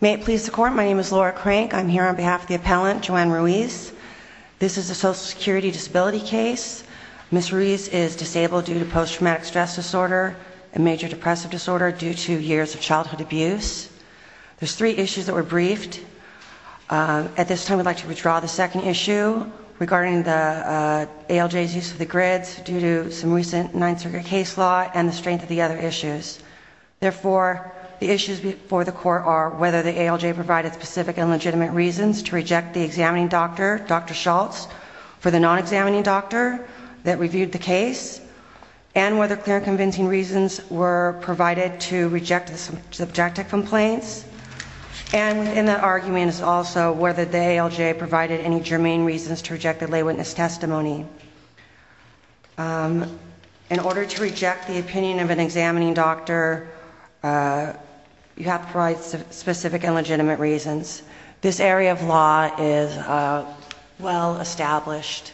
May it please the court, my name is Laura Crank. I'm here on behalf of the appellant Joann Ruiz. This is a social security disability case. Ms. Ruiz is disabled due to post-traumatic stress disorder and major depressive disorder due to years of childhood abuse. There's three issues that were briefed. At this time we'd like to withdraw the second issue regarding the ALJ's use of the grids due to some recent 9th Circuit case law and the strength of the other issues. Therefore, the issues before the court are whether the ALJ provided specific and legitimate reasons to reject the examining doctor, Dr. Schultz, for the non-examining doctor that reviewed the case and whether clear and convincing reasons were provided to reject the subjective complaints. And within that argument is also whether the ALJ provided any germane reasons to reject the testimony. In order to reject the opinion of an examining doctor, you have to provide specific and legitimate reasons. This area of law is well established.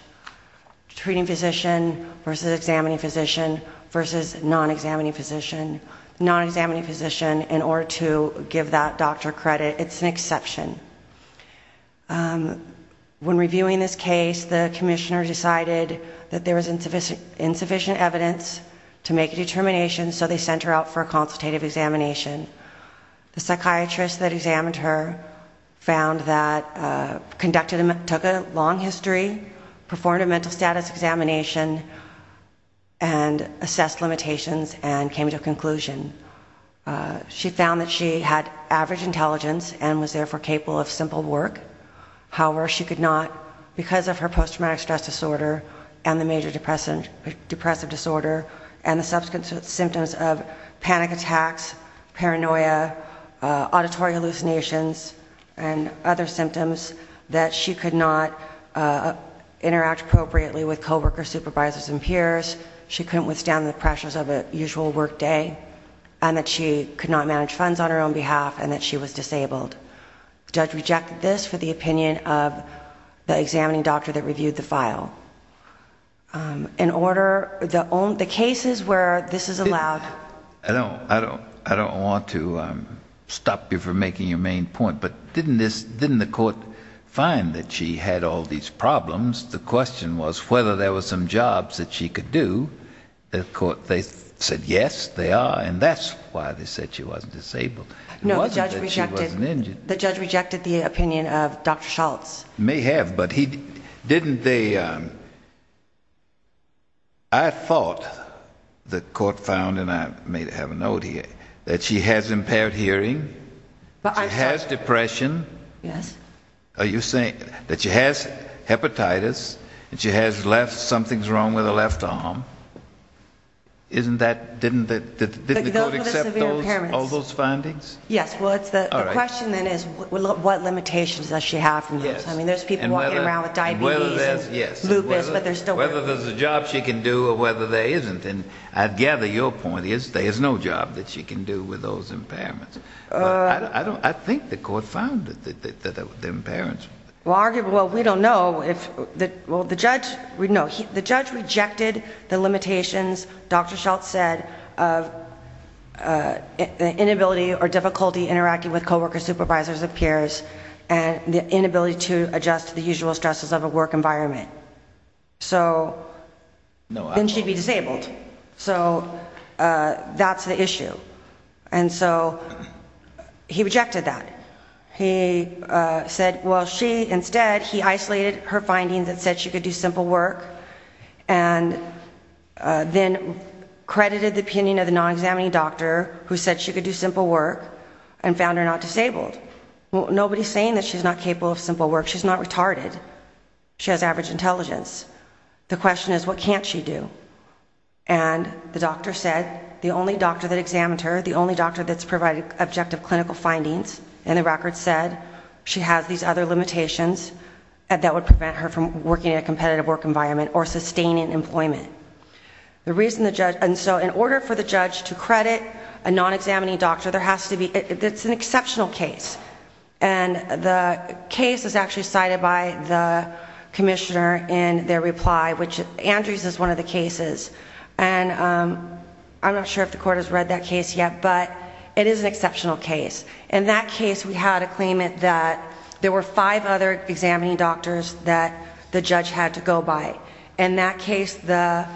Treating physician versus examining physician versus non-examining physician. Non-examining physician, in order to give that doctor credit, it's an exception. When reviewing this case, the commissioner decided that there was insufficient evidence to make a determination, so they sent her out for a consultative examination. The psychiatrist that examined her found that conducted, took a long history, performed a mental status examination, and assessed limitations and came to a conclusion. She found that she had average intelligence and was therefore capable of simple work. However, she could not, because of her post-traumatic stress disorder and the major depressive disorder and the subsequent symptoms of panic attacks, paranoia, auditory hallucinations, and other symptoms, that she could not interact appropriately with coworkers, supervisors, and peers. She couldn't withstand the pressures of usual work day, and that she could not manage funds on her own behalf, and that she was disabled. The judge rejected this for the opinion of the examining doctor that reviewed the file. In order, the cases where this is allowed... I don't want to stop you from making your main point, but didn't the court find that she had all these problems? The question was whether there were some jobs that she could do. The court, they said yes, they are, and that's why they said she wasn't disabled. It wasn't that she wasn't injured. No, the judge rejected the opinion of Dr. Schultz. May have, but didn't they... I thought the court found, and I may have a note here, that she has impaired hearing, she has depression, are you saying that she has hepatitis, and she has something's wrong with her left arm? Didn't the court accept all those findings? Yes, well, the question then is, what limitations does she have from this? I mean, there's people walking around with diabetes, and lupus, but there's still... Whether there's a job she can do, or whether there isn't, and I gather your point is, there is no job that she can do with those impairments. I think the court found that there were impairments. Well, we don't know if, well, the judge, no, the judge rejected the limitations Dr. Schultz said of the inability or difficulty interacting with co-workers, supervisors, and peers, and the inability to adjust to the usual stresses of a work environment. So, then she'd be disabled. So, that's the issue. And so, he rejected that. He said, well, she, instead, he isolated her findings and said she could do simple work, and then credited the opinion of the non-examining doctor, who said she could do simple work, and found her not disabled. Well, nobody's saying that she's not capable of simple work. She's not retarded. She has average intelligence. The question is what can't she do? And the doctor said the only doctor that examined her, the only doctor that's provided objective clinical findings, and the record said she has these other limitations that would prevent her from working in a competitive work environment or sustaining employment. The reason the judge... And so, in order for the judge to credit a non-examining doctor, there has to be... It's an exceptional case, and the case is actually cited by the commissioner in their reply, which Andrews is one of the cases, and I'm not sure if the court has read that case yet, but it is an exceptional case. In that case, we had a claimant that there were five other examining doctors that the judge had to go by. In that case, the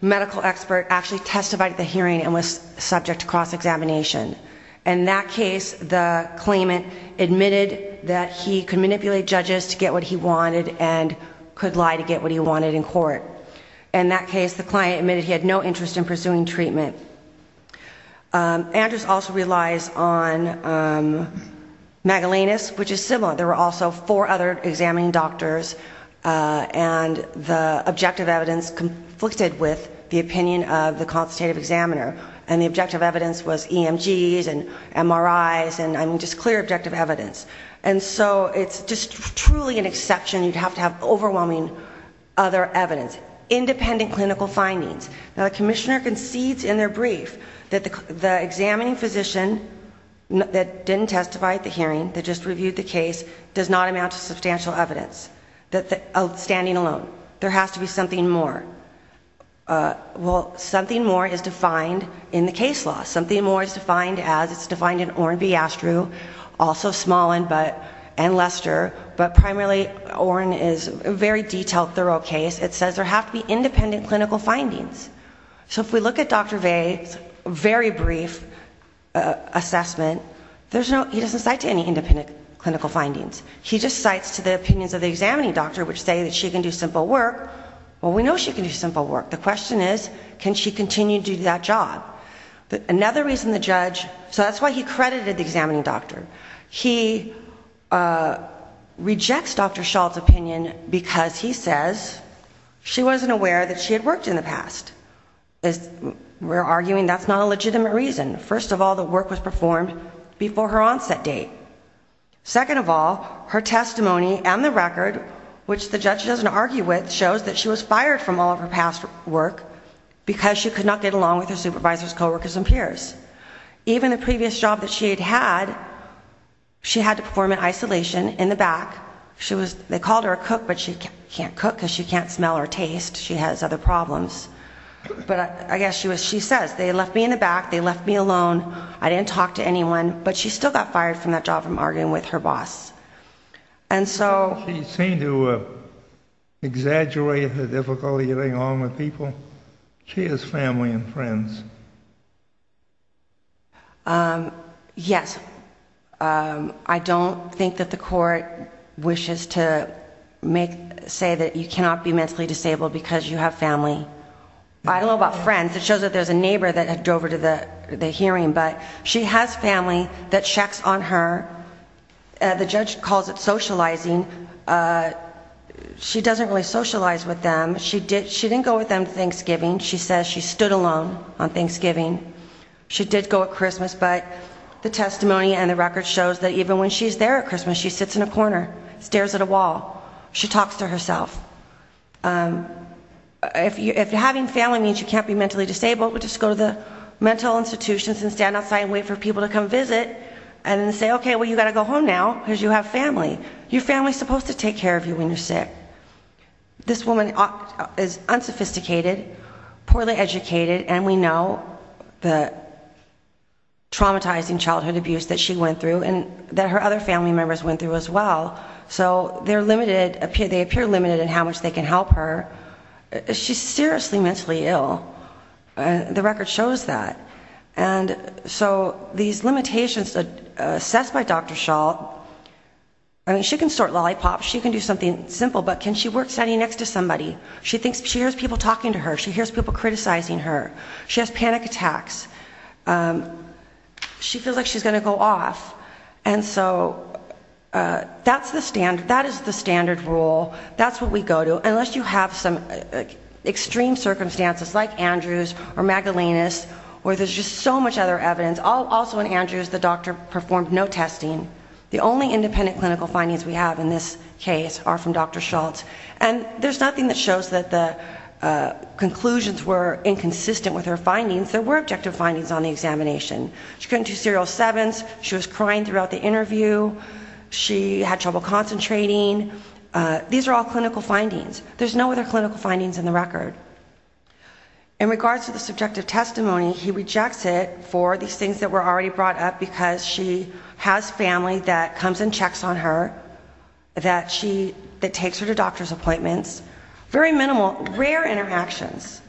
medical expert actually testified at the hearing and was subject to cross-examination. In that case, the claimant admitted that he could manipulate judges to get what he wanted and could lie to get what he wanted in court. In that case, the client admitted he had no interest in pursuing treatment. Andrews also relies on Magellanus, which is similar. There were also four other examining doctors, and the objective evidence conflicted with the opinion of the MRIs, and just clear objective evidence. And so, it's just truly an exception. You'd have to have overwhelming other evidence, independent clinical findings. Now, the commissioner concedes in their brief that the examining physician that didn't testify at the hearing, that just reviewed the case, does not amount to substantial evidence, standing alone. There has to be something more. Well, something more is defined in the case law. Something more is defined as, it's defined in Oren B. Astru, also Smolin and Lester, but primarily Oren is a very detailed, thorough case. It says there have to be independent clinical findings. So, if we look at Dr. Vey's very brief assessment, there's no, he doesn't cite to any independent clinical findings. He just cites to the opinions of the examining doctor, which say that she can do simple work. Well, we know she can do simple work. The question is, can she continue to do that job? Another reason the judge, so that's why he credited the examining doctor. He rejects Dr. Schall's opinion because he says she wasn't aware that she had worked in the past. We're arguing that's not a legitimate reason. First of all, the which the judge doesn't argue with shows that she was fired from all of her past work because she could not get along with her supervisors, co-workers, and peers. Even the previous job that she had had, she had to perform in isolation in the back. She was, they called her a cook, but she can't cook because she can't smell or taste. She has other problems, but I guess she was, she says they left me in the back. They left me alone. I didn't talk to anyone, but she still got fired from that job arguing with her boss. She seemed to exaggerate the difficulty getting along with people. She has family and friends. Yes, I don't think that the court wishes to make, say that you cannot be mentally disabled because you have family. I don't know about friends. It shows that there's a neighbor that had drove her to the hearing, but she has family that checks on her. The judge calls it socializing. She doesn't really socialize with them. She didn't go with them to Thanksgiving. She says she stood alone on Thanksgiving. She did go at Christmas, but the testimony and the record shows that even when she's there at Christmas, she sits in a corner, stares at a wall. She talks to herself. If having family means you can't be mentally disabled, just go to the mental institutions and stand outside and wait for people to come visit and say, okay, well, you got to go home now because you have family. Your family's supposed to take care of you when you're sick. This woman is unsophisticated, poorly educated, and we know the traumatizing childhood abuse that she went through and that her other family members went through as well, so they're limited. They appear limited in how much they can help her. She's seriously mentally ill. The record shows that, and so these limitations that are assessed by Dr. Schall, I mean, she can sort lollipops. She can do something simple, but can she work standing next to somebody? She thinks she hears people talking to her. She hears people criticizing her. She has panic attacks. She feels like she's going to go off, and so that's the standard. That we go to, unless you have some extreme circumstances like Andrews or Magdalenas, or there's just so much other evidence. Also in Andrews, the doctor performed no testing. The only independent clinical findings we have in this case are from Dr. Schall, and there's nothing that shows that the conclusions were inconsistent with her findings. There were objective findings on the examination. She couldn't do serial sevens. She was crying throughout the There's no other clinical findings in the record. In regards to the subjective testimony, he rejects it for these things that were already brought up, because she has family that comes and checks on her, that takes her to doctor's appointments. Very minimal, rare interactions.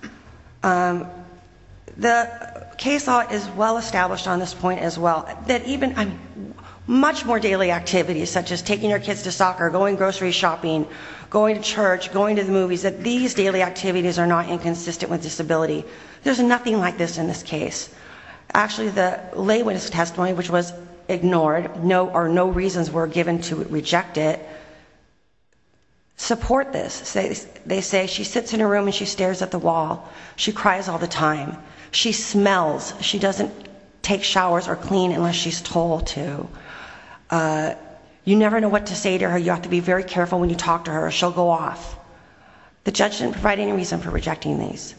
The case law is well established on this point as well, that even much more daily activities, such as taking your kids to soccer, going grocery shopping, going to church, going to the movies, that these daily activities are not inconsistent with disability. There's nothing like this in this case. Actually, the lay witness testimony, which was ignored, or no reasons were given to reject it, support this. They say she sits in a room and she stares at the wall. She cries all time. She smells. She doesn't take showers or clean unless she's told to. You never know what to say to her. You have to be very careful when you talk to her or she'll go off. The judge didn't provide any reason for rejecting these.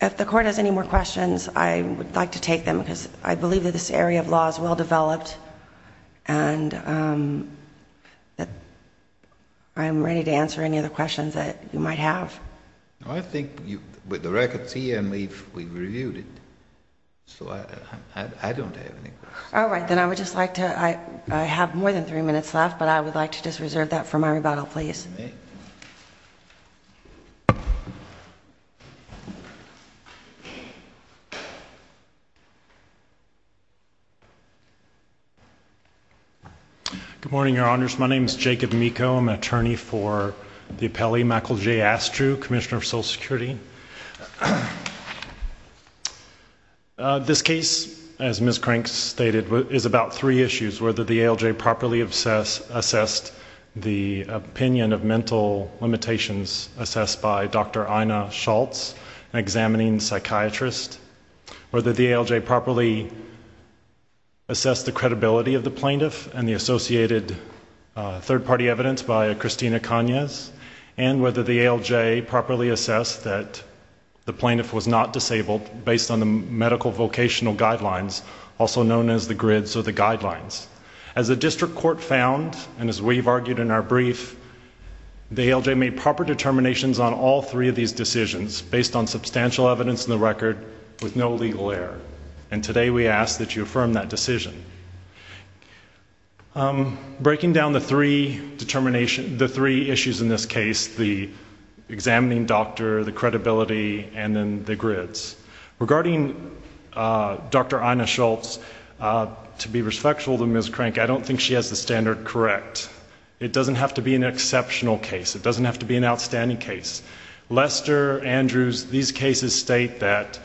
If the court has any more questions, I would like to take them, because I believe that this area of law is well developed, and I'm ready to answer any other questions that you might have. No, I think with the records here and we've reviewed it, so I don't have any questions. All right, then I would just like to, I have more than three minutes left, but I would like to just reserve that for my rebuttal, please. Good morning, Your Honors. My name is Jacob Meeko. I'm an attorney for the appellee, Michael J. Astrew, Commissioner of Social Security. This case, as Ms. Crank stated, is about three issues, whether the ALJ properly assessed the opinion of mental limitations assessed by Dr. Ina Schultz, an examining psychiatrist, whether the ALJ properly assessed the credibility of the plaintiff and the associated third-party evidence by Christina Cagnes, and whether the ALJ properly assessed that the plaintiff was not disabled based on the medical vocational guidelines, also known as the guidelines. As the district court found, and as we've argued in our brief, the ALJ made proper determinations on all three of these decisions based on substantial evidence in the record with no legal error, and today we ask that you affirm that decision. Breaking down the three issues in this case, the examining doctor, the credibility, and then the grids. Regarding Dr. Ina Schultz, to be respectful to Ms. Crank, I don't think she has the standard correct. It doesn't have to be an exceptional case. It doesn't have to be an outstanding case. Lester, Andrews, these cases state that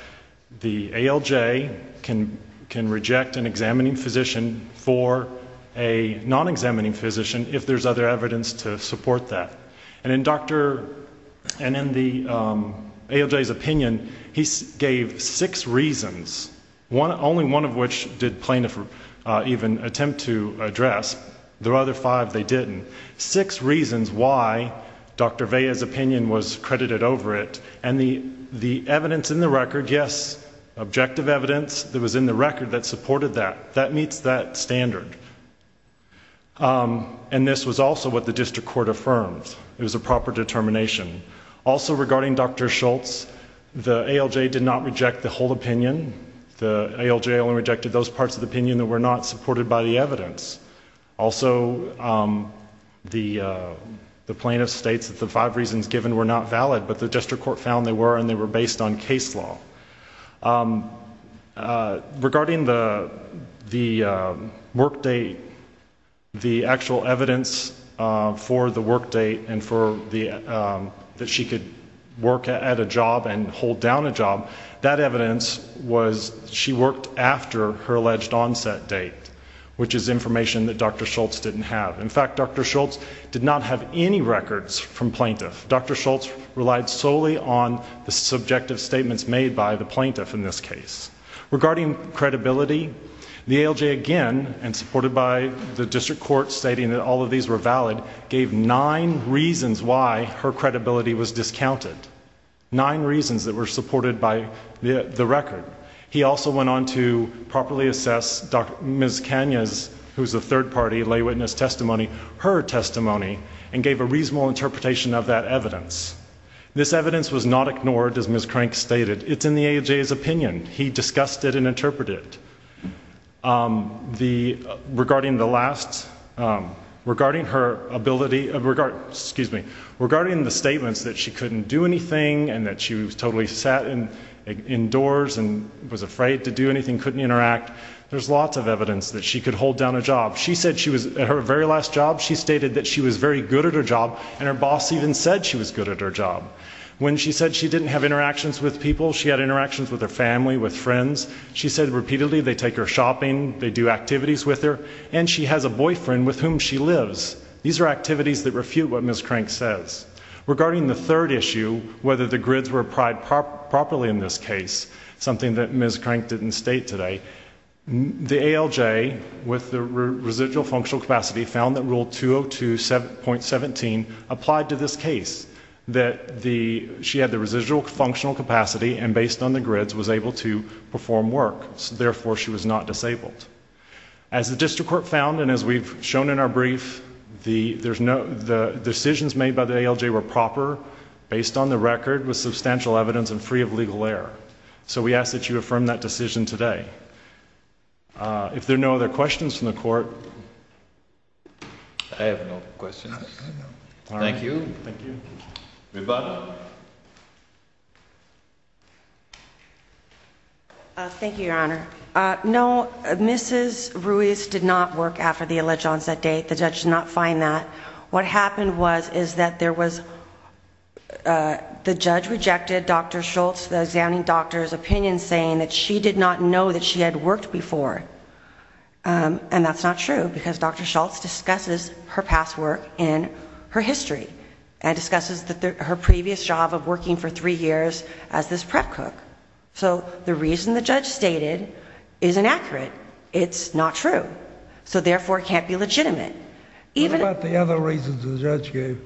the ALJ can reject an examining physician for a non-examining physician if there's other evidence to support that. And in the ALJ's opinion, he gave six reasons, only one of which did plaintiff even attempt to address. The other five they didn't. Six reasons why Dr. Vea's opinion was credited over it, and the evidence in the record, yes, objective evidence that was in the record that meets that standard. And this was also what the district court affirmed. It was a proper determination. Also, regarding Dr. Schultz, the ALJ did not reject the whole opinion. The ALJ only rejected those parts of the opinion that were not supported by the evidence. Also, the plaintiff states that the five reasons given were not valid, but the district court found they were, and they were based on case law. Regarding the work date, the actual evidence for the work date and for that she could work at a job and hold down a job, that evidence was she worked after her alleged onset date, which is information that Dr. Schultz didn't have. In fact, Dr. Schultz did not have any records from plaintiff. Dr. Schultz relied solely on the subjective statements made by the plaintiff in this case. Regarding credibility, the ALJ again, and supported by the district court stating that all of these were valid, gave nine reasons why her credibility was discounted. Nine reasons that were supported by the record. He also went on to properly assess Ms. Kanya's, who's a third party, lay witness testimony, her testimony, and gave a reasonable interpretation of that evidence. This evidence was not ignored, as Ms. Crank stated. It's in the ALJ's opinion. He discussed it and interpreted it. Regarding the last, regarding her ability, excuse me, regarding the statements that she couldn't do anything and that she was totally sat indoors and was afraid to do anything, couldn't interact, there's lots of evidence that she could hold down a job. She said she was, at her very last job, she stated that she was very good at her job, and her boss even said she was good at her job. When she said she didn't have interactions with people, she had interactions with her family, with friends. She said repeatedly they take her shopping, they do activities with her, and she has a boyfriend with whom she lives. These are activities that refute what Ms. Crank says. Regarding the third issue, whether the properly in this case, something that Ms. Crank didn't state today, the ALJ with the residual functional capacity found that Rule 202.17 applied to this case, that she had the residual functional capacity and based on the grids was able to perform work. Therefore, she was not disabled. As the District Court found, and as we've shown in our brief, the decisions made by ALJ were proper, based on the record, with substantial evidence, and free of legal error. So we ask that you affirm that decision today. If there are no other questions from the Court. I have no questions. Thank you. Thank you. Thank you, Your Honor. No, Mrs. Ruiz did not work after the alleged onset date. The judge did not find that. What happened was, is that there was, the judge rejected Dr. Schultz, the examining doctor's opinion, saying that she did not know that she had worked before. And that's not true, because Dr. Schultz discusses her past work in her history, and discusses her previous job of working for three years as this prep cook. So the reason the judge stated is inaccurate. It's not true. So therefore, it can't be legitimate. What about the other reasons the judge gave?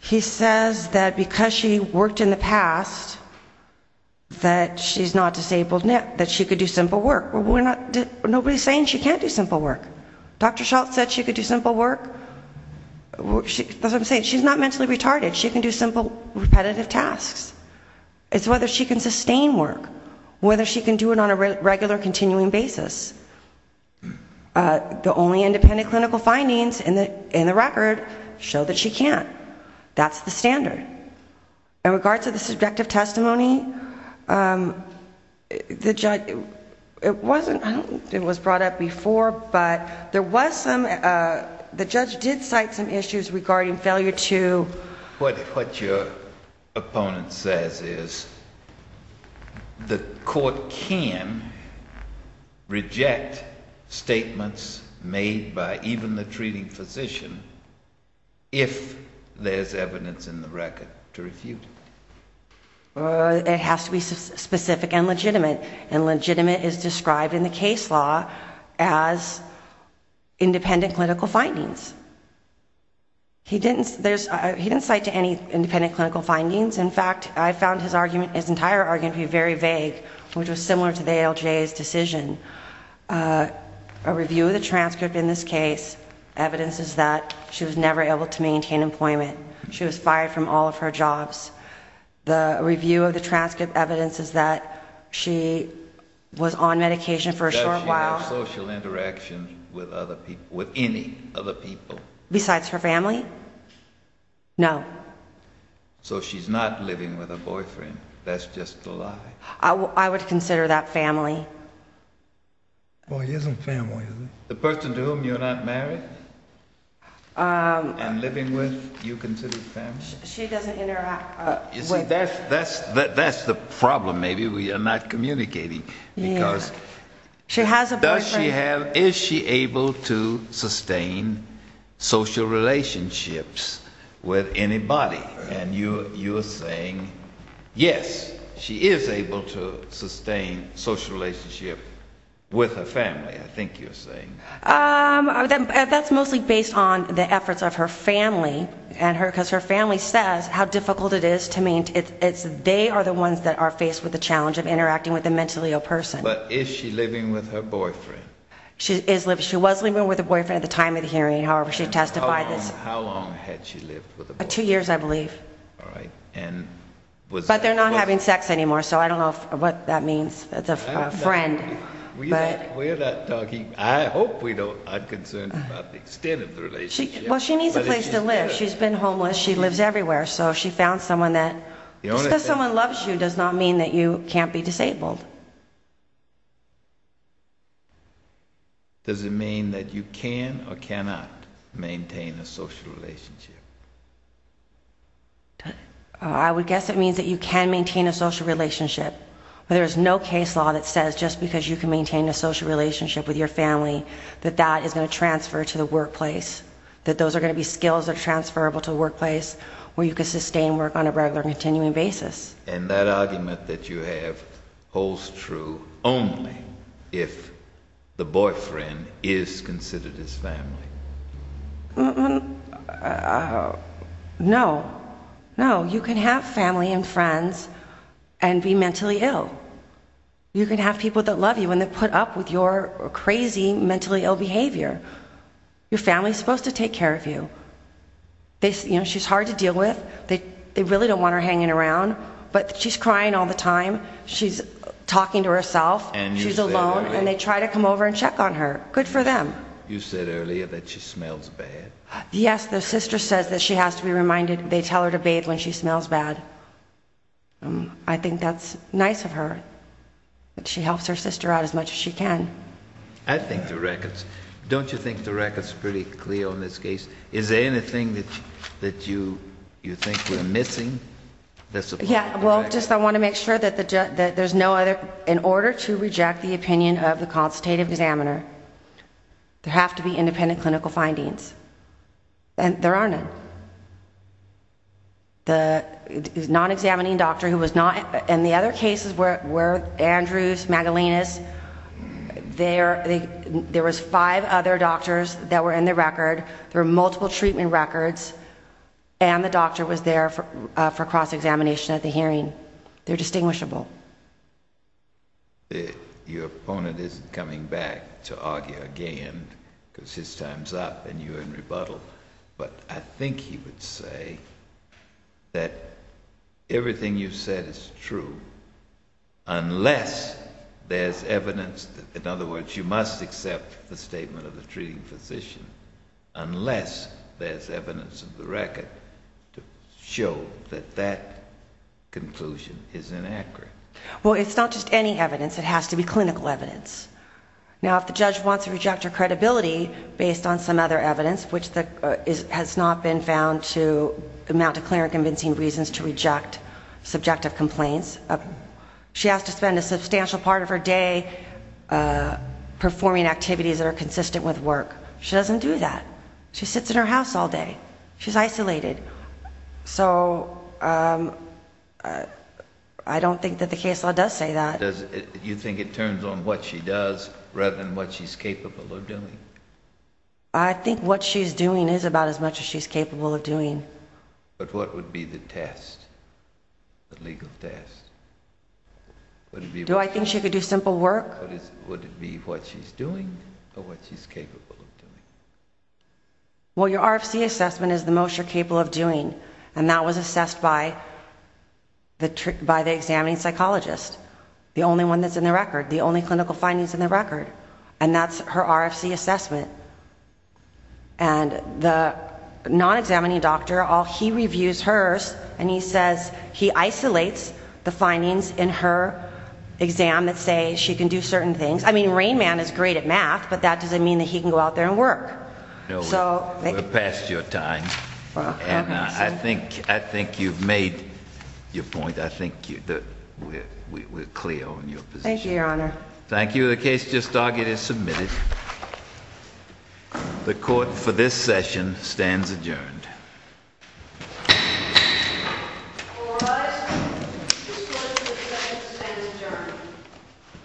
He says that because she worked in the past, that she's not disabled now, that she could do simple work. Nobody's saying she can't do simple work. Dr. Schultz said she could do simple work. That's what I'm saying. She's not mentally retarded. She can do simple, repetitive tasks. It's whether she can sustain work, whether she can do it on a regular, continuing basis. The only independent clinical findings in the record show that she can't. That's the standard. In regards to the subjective testimony, the judge, it wasn't, I don't think it was brought up before, but there was some, the judge did cite some issues regarding failure to. What your opponent says is the court can reject statements made by even the treating physician if there's evidence in the record to refute it. It has to be specific and legitimate, and legitimate is described in the case law as independent clinical findings. He didn't, there's, he didn't cite to any independent clinical findings. In fact, I found his argument, his entire argument to be very vague, which was similar to the ALJ's decision. A review of the transcript in this case, evidence is that she was never able to maintain employment. She was fired from all of her jobs. The review of the transcript evidence is that she was on medication for a short while. Does she have social interaction with other people, with any other people? Besides her family? No. So she's not living with a boyfriend. That's just a lie. I would consider that family. Well, he isn't family. The person to whom you're not married and living with, you consider family? She doesn't interact. You see, that's the problem. Maybe we are not communicating because she has a boyfriend. Does she have, is she able to sustain social relationships with anybody? And you, you're saying yes, she is able to sustain social relationship with her family, I think you're saying. That's mostly based on the efforts of her family and her, because her family says how difficult it is to maintain. It's, they are the ones that are faced with the challenge of interacting with a mentally ill person. But is she living with her boyfriend? She is living, she was living with a boyfriend at the time of the hearing. However, she testified that. How long had she lived with a boyfriend? Two years, I believe. All right. And was. But they're not having sex anymore, so I don't know what that means, that's a friend. We're not talking, I hope we don't, I'm concerned about the extent of the relationship. Well, she needs a place to live. She's been homeless, she lives everywhere. So she found someone that, just because someone loves you does not mean that you can't be disabled. Does it mean that you can or cannot maintain a social relationship? I would guess it means that you can maintain a social relationship, but there is no case law that says just because you can maintain a social relationship with your family, that that is going to transfer to the workplace. That those are going to be skills that are transferable to the workplace, where you can sustain work on a regular, continuing basis. And that argument that you have holds true only if the boyfriend is considered his family. No, no, you can have family and friends and be mentally ill. You can have people that love you and they put up with your crazy, mentally ill behavior. Your family is supposed to take care of you. They, you know, she's hard to deal with. They really don't want her hanging around, but she's crying all the time. She's talking to herself, she's alone, and they try to come over and check on her. Good for them. You said earlier that she smells bad. Yes, the sister says that she has to be reminded they tell her to bathe when she smells bad. I think that's nice of her. She helps her sister out as much as she can. I think the records, don't you think the records pretty clear on this case? Is there anything that you think we're missing? Yeah, well, just I want to make sure that there's no other, in order to reject the opinion of the constatative examiner, there have to be independent clinical findings. And there are none. The non-examining doctor who was not, in the other cases where Andrews, Magdalenas, there was five other doctors that were in the record, there were multiple treatment records, and the doctor was there for cross-examination at the hearing. They're distinguishable. Your opponent isn't coming back to argue again, because his time's up and you're in rebuttal. But I think he would say that everything you said is true, unless there's evidence, in other words, you must accept the statement of the treating physician, unless there's evidence of the record to show that that conclusion is inaccurate. Well, it's not just any evidence. It has to be clinical evidence. Now, if the judge wants to has not been found to amount to clear and convincing reasons to reject subjective complaints, she has to spend a substantial part of her day performing activities that are consistent with work. She doesn't do that. She sits in her house all day. She's isolated. So I don't think that the case law does say that. You think it turns on what she does rather than what she's capable of doing? I think what she's doing is about as much as she's capable of doing. But what would be the test, the legal test? Do I think she could do simple work? Would it be what she's doing or what she's capable of doing? Well, your RFC assessment is the most you're capable of doing, and that was assessed by the examining psychologist, the only one that's in the record, the only clinical findings in the RFC assessment. And the non-examining doctor, he reviews hers, and he says he isolates the findings in her exam that say she can do certain things. I mean, Rain Man is great at math, but that doesn't mean that he can go out there and work. We're past your time, and I think you've made your point. I think we're clear on your position. Thank you, Your Honor. Thank you. The case just dogged is submitted. The court for this session stands adjourned.